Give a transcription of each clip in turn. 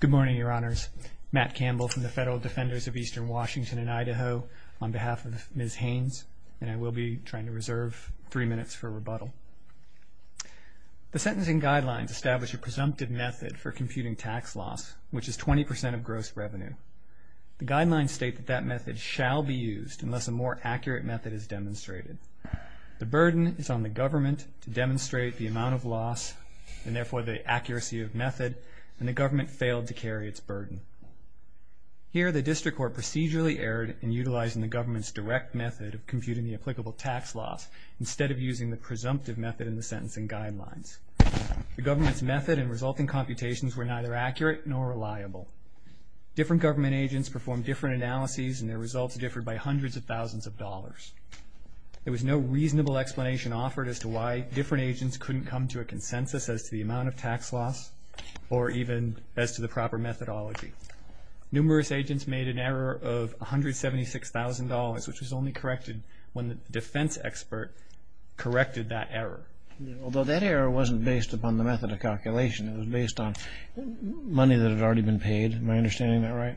Good morning, Your Honors. Matt Campbell from the Federal Defenders of Eastern Washington and Idaho on behalf of Ms. Haynes, and I will be trying to reserve three minutes for rebuttal. The sentencing guidelines establish a presumptive method for computing tax loss, which is 20% of gross revenue. The guidelines state that that method shall be used unless a more accurate method is demonstrated. The burden is on the government to demonstrate the amount of loss, and therefore the accuracy of method, and the government failed to carry its burden. Here, the district court procedurally erred in utilizing the government's direct method of computing the applicable tax loss instead of using the presumptive method in the sentencing guidelines. The government's method and resulting computations were neither accurate nor reliable. Different government agents performed different analyses and their results differed by hundreds of thousands of dollars. There was no reasonable explanation offered as to why different agents couldn't come to a consensus as to the amount of tax loss or even as to the proper methodology. Numerous agents made an error of $176,000, which was only corrected when the defense expert corrected that error. Although that error wasn't based upon the method of calculation. It was based on money that had already been paid. Am I understanding that right?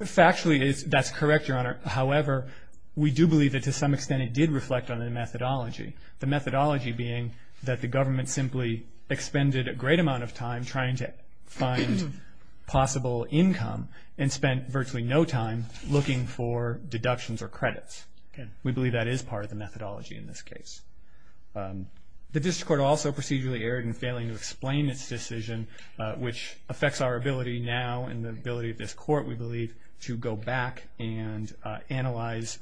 Factually, that's correct, Your Honor. However, we do believe that to some extent it did reflect on the methodology. The methodology being that the government simply expended a great amount of time trying to find possible income and spent virtually no time looking for deductions or credits. We believe that is part of the methodology in this case. The district court also procedurally erred in failing to explain its decision, which affects our ability now and the ability of this court, we believe, to go back and analyze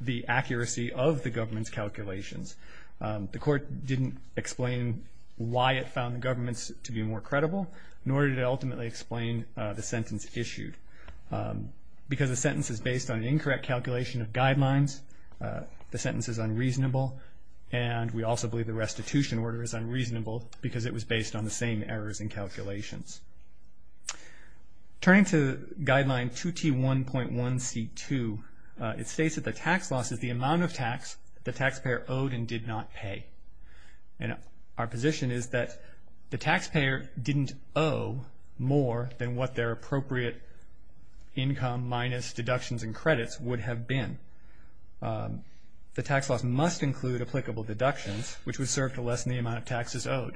the accuracy of the government's calculations. The court didn't explain why it found the government's to be more credible, nor did it ultimately explain the sentence issued. Because the sentence is based on an incorrect calculation of guidelines, the sentence is unreasonable, and we also believe the restitution order is unreasonable because it was based on the same errors in calculations. Turning to guideline 2T1.1C2, it states that the tax loss is the amount of tax the taxpayer owed and did not pay. And our position is that the taxpayer didn't owe more than what their appropriate income minus deductions and credits would have been. The tax loss must include applicable deductions, which would serve to lessen the amount of taxes owed.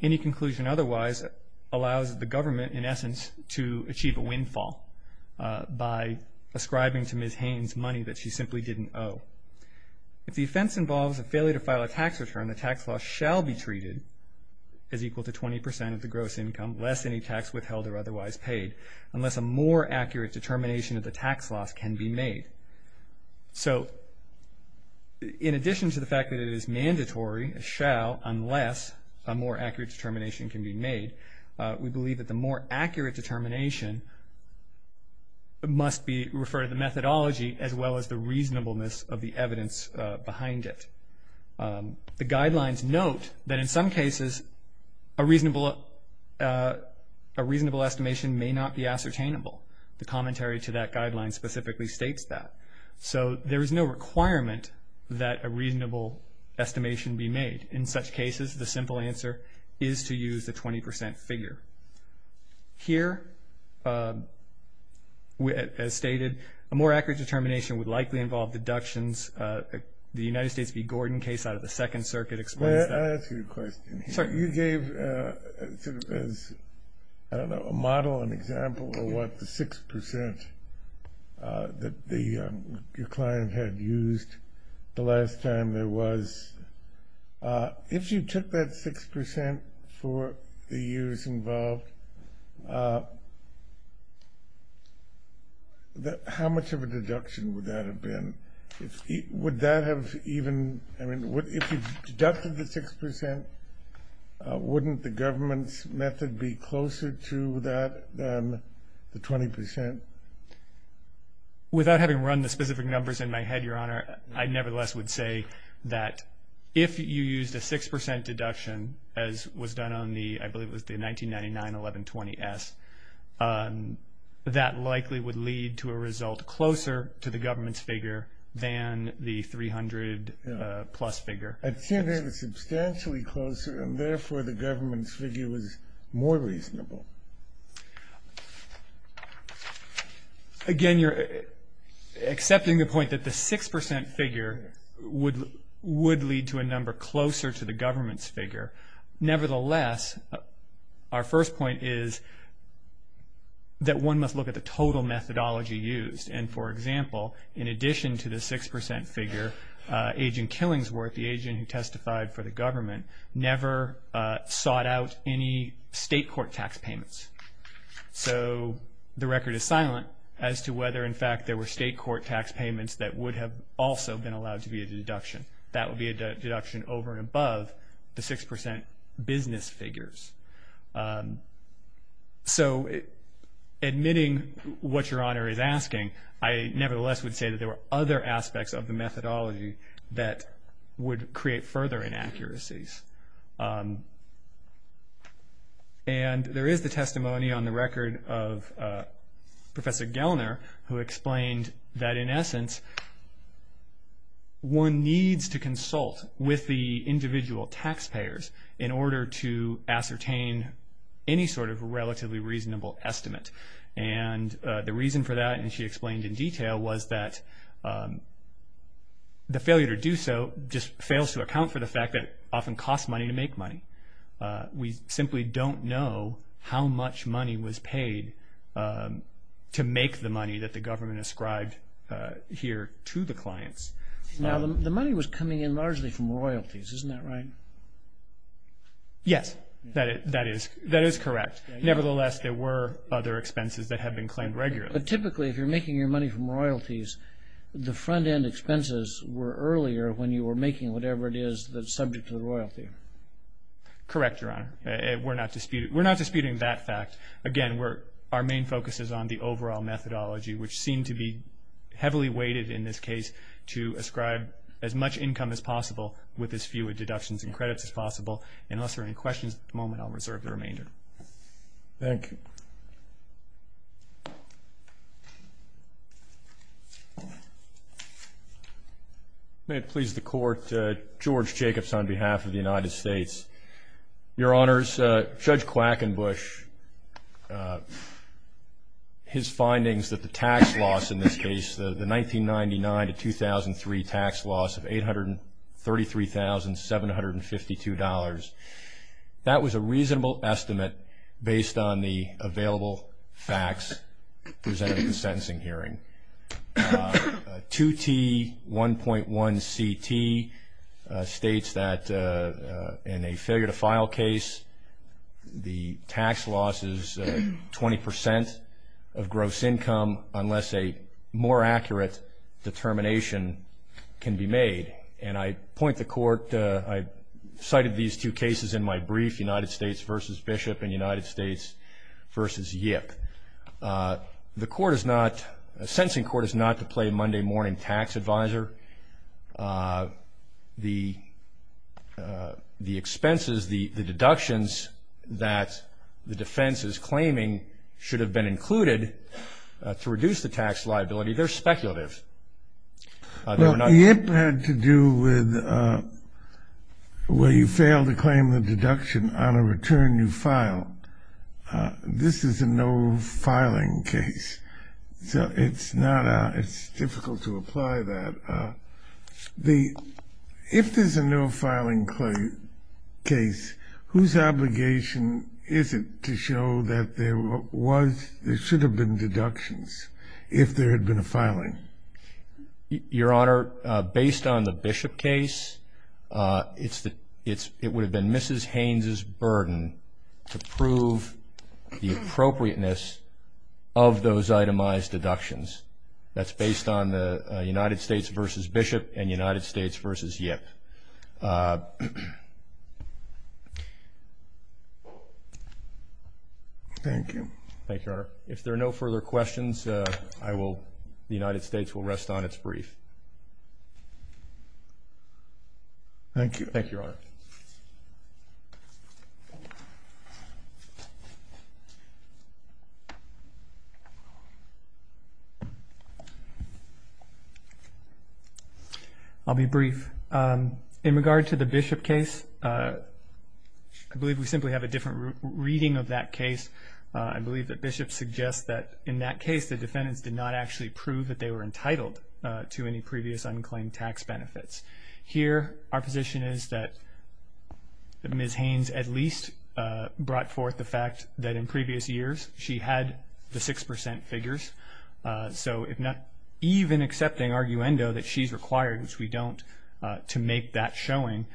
Any conclusion otherwise allows the government, in essence, to achieve a windfall by ascribing to Ms. Haynes money that she simply didn't owe. If the offense involves a failure to file a tax return, the tax loss shall be treated as equal to 20 percent of the gross income, less any tax withheld or otherwise paid, unless a more accurate determination of the tax loss can be made. So in addition to the fact that it is mandatory, it shall, unless a more accurate determination can be made, we believe that the more accurate determination must be referred to the methodology as well as the reasonableness of the evidence behind it. The guidelines note that in some cases a reasonable estimation may not be ascertainable. The commentary to that guideline specifically states that. So there is no requirement that a reasonable estimation be made. In such cases, the simple answer is to use the 20 percent figure. Here, as stated, a more accurate determination would likely involve deductions. The United States v. Gordon case out of the Second Circuit explains that. Can I ask you a question? Sure. You gave sort of as, I don't know, a model, an example of what the 6 percent that your client had used the last time there was. If you took that 6 percent for the years involved, how much of a deduction would that have been? Would that have even, I mean, if you deducted the 6 percent, wouldn't the government's method be closer to that, the 20 percent? Without having run the specific numbers in my head, Your Honor, I nevertheless would say that if you used a 6 percent deduction, as was done on the, I believe it was the 1999 1120S, that likely would lead to a result closer to the government's figure than the 300 plus figure. I'd say they were substantially closer, and therefore the government's figure was more reasonable. Again, you're accepting the point that the 6 percent figure would lead to a number closer to the government's figure. Nevertheless, our first point is that one must look at the total methodology used. And, for example, in addition to the 6 percent figure, Agent Killingsworth, the agent who testified for the government, never sought out any state court tax payments. So the record is silent as to whether, in fact, there were state court tax payments that would have also been allowed to be a deduction. That would be a deduction over and above the 6 percent business figures. So admitting what Your Honor is asking, I nevertheless would say that there were other aspects of the methodology that would create further inaccuracies. And there is the testimony on the record of Professor Gellner who explained that, in essence, one needs to consult with the individual taxpayers in order to ascertain any sort of relatively reasonable estimate. And the reason for that, and she explained in detail, was that the failure to do so just fails to account for the fact that it often costs money to make money. We simply don't know how much money was paid to make the money that the government ascribed here to the clients. Now, the money was coming in largely from royalties, isn't that right? Yes, that is correct. Nevertheless, there were other expenses that had been claimed regularly. But typically, if you're making your money from royalties, the front-end expenses were earlier when you were making whatever it is that's subject to the royalty. Correct, Your Honor. We're not disputing that fact. Again, our main focus is on the overall methodology, which seemed to be heavily weighted in this case to ascribe as much income as possible with as few deductions and credits as possible. And unless there are any questions at the moment, I'll reserve the remainder. Thank you. May it please the Court, George Jacobs on behalf of the United States. Your Honors, Judge Quackenbush, his findings that the tax loss in this case, the 1999 to 2003 tax loss of $833,752, that was a reasonable estimate based on the available facts presented at the sentencing hearing. 2T1.1CT states that in a failure-to-file case, the tax loss is 20% of gross income unless a more accurate determination can be made. And I point the Court, I cited these two cases in my brief, United States v. Bishop and United States v. Yip. The court is not, the sentencing court is not to play Monday morning tax advisor. The expenses, the deductions that the defense is claiming should have been included to reduce the tax liability, they're speculative. Well, Yip had to do with where you fail to claim the deduction on a return you file. This is a no-filing case, so it's not, it's difficult to apply that. If there's a no-filing case, whose obligation is it to show that there should have been deductions if there had been a filing? Your Honor, based on the Bishop case, it would have been Mrs. Haynes' burden to prove the appropriateness of those itemized deductions. That's based on the United States v. Bishop and United States v. Yip. Thank you. Thank you, Your Honor. If there are no further questions, I will, the United States will rest on its brief. Thank you. Thank you, Your Honor. I'll be brief. In regard to the Bishop case, I believe we simply have a different reading of that case. I believe that Bishop suggests that in that case the defendants did not actually prove that they were entitled to any previous unclaimed tax benefits. Here our position is that Mrs. Haynes at least brought forth the fact that in previous years she had the 6% figures. So even accepting arguendo that she's required, which we don't, to make that showing,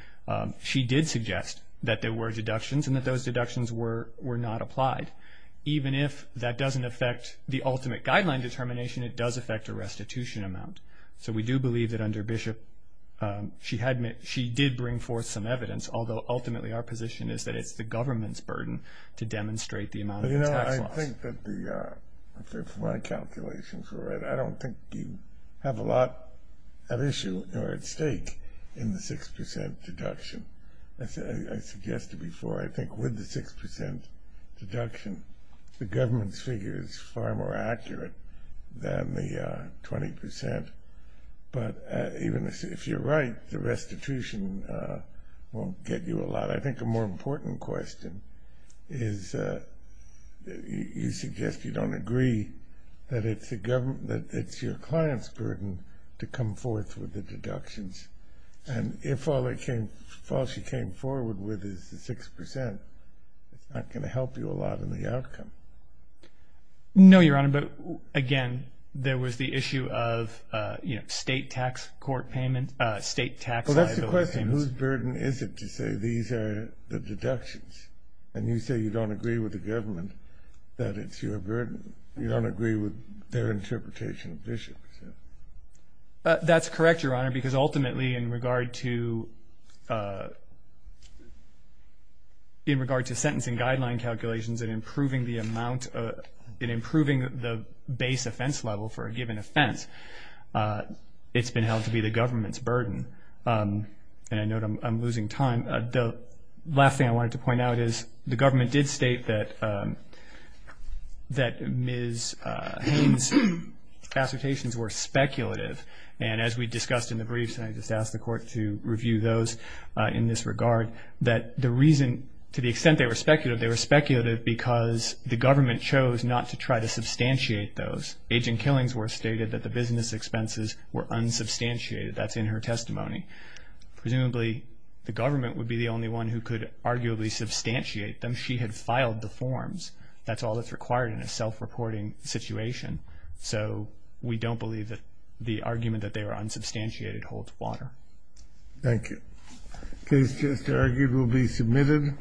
she did suggest that there were deductions and that those deductions were not applied. Even if that doesn't affect the ultimate guideline determination, it does affect a restitution amount. So we do believe that under Bishop she did bring forth some evidence, although ultimately our position is that it's the government's burden to demonstrate the amount of tax loss. You know, I think that my calculations are right. I don't think you have a lot at issue or at stake in the 6% deduction. As I suggested before, I think with the 6% deduction the government's figure is far more accurate than the 20%. But even if you're right, the restitution won't get you a lot. I think a more important question is you suggest you don't agree that it's your client's burden to come forth with the deductions. And if all she came forward with is the 6%, it's not going to help you a lot in the outcome. No, Your Honor, but again, there was the issue of state tax liability payments. Well, that's the question. Whose burden is it to say these are the deductions? And you say you don't agree with the government that it's your burden. You don't agree with their interpretation of Bishop. That's correct, Your Honor, because ultimately in regard to sentencing guideline calculations and improving the base offense level for a given offense, it's been held to be the government's burden. And I know I'm losing time. The last thing I wanted to point out is the government did state that Ms. Haynes' assertions were speculative. And as we discussed in the briefs, and I just asked the court to review those in this regard, that the reason to the extent they were speculative, they were speculative because the government chose not to try to substantiate those. Agent Killingsworth stated that the business expenses were unsubstantiated. That's in her testimony. Presumably the government would be the only one who could arguably substantiate them. She had filed the forms. That's all that's required in a self-reporting situation. So we don't believe that the argument that they were unsubstantiated holds water. Case just argued will be submitted.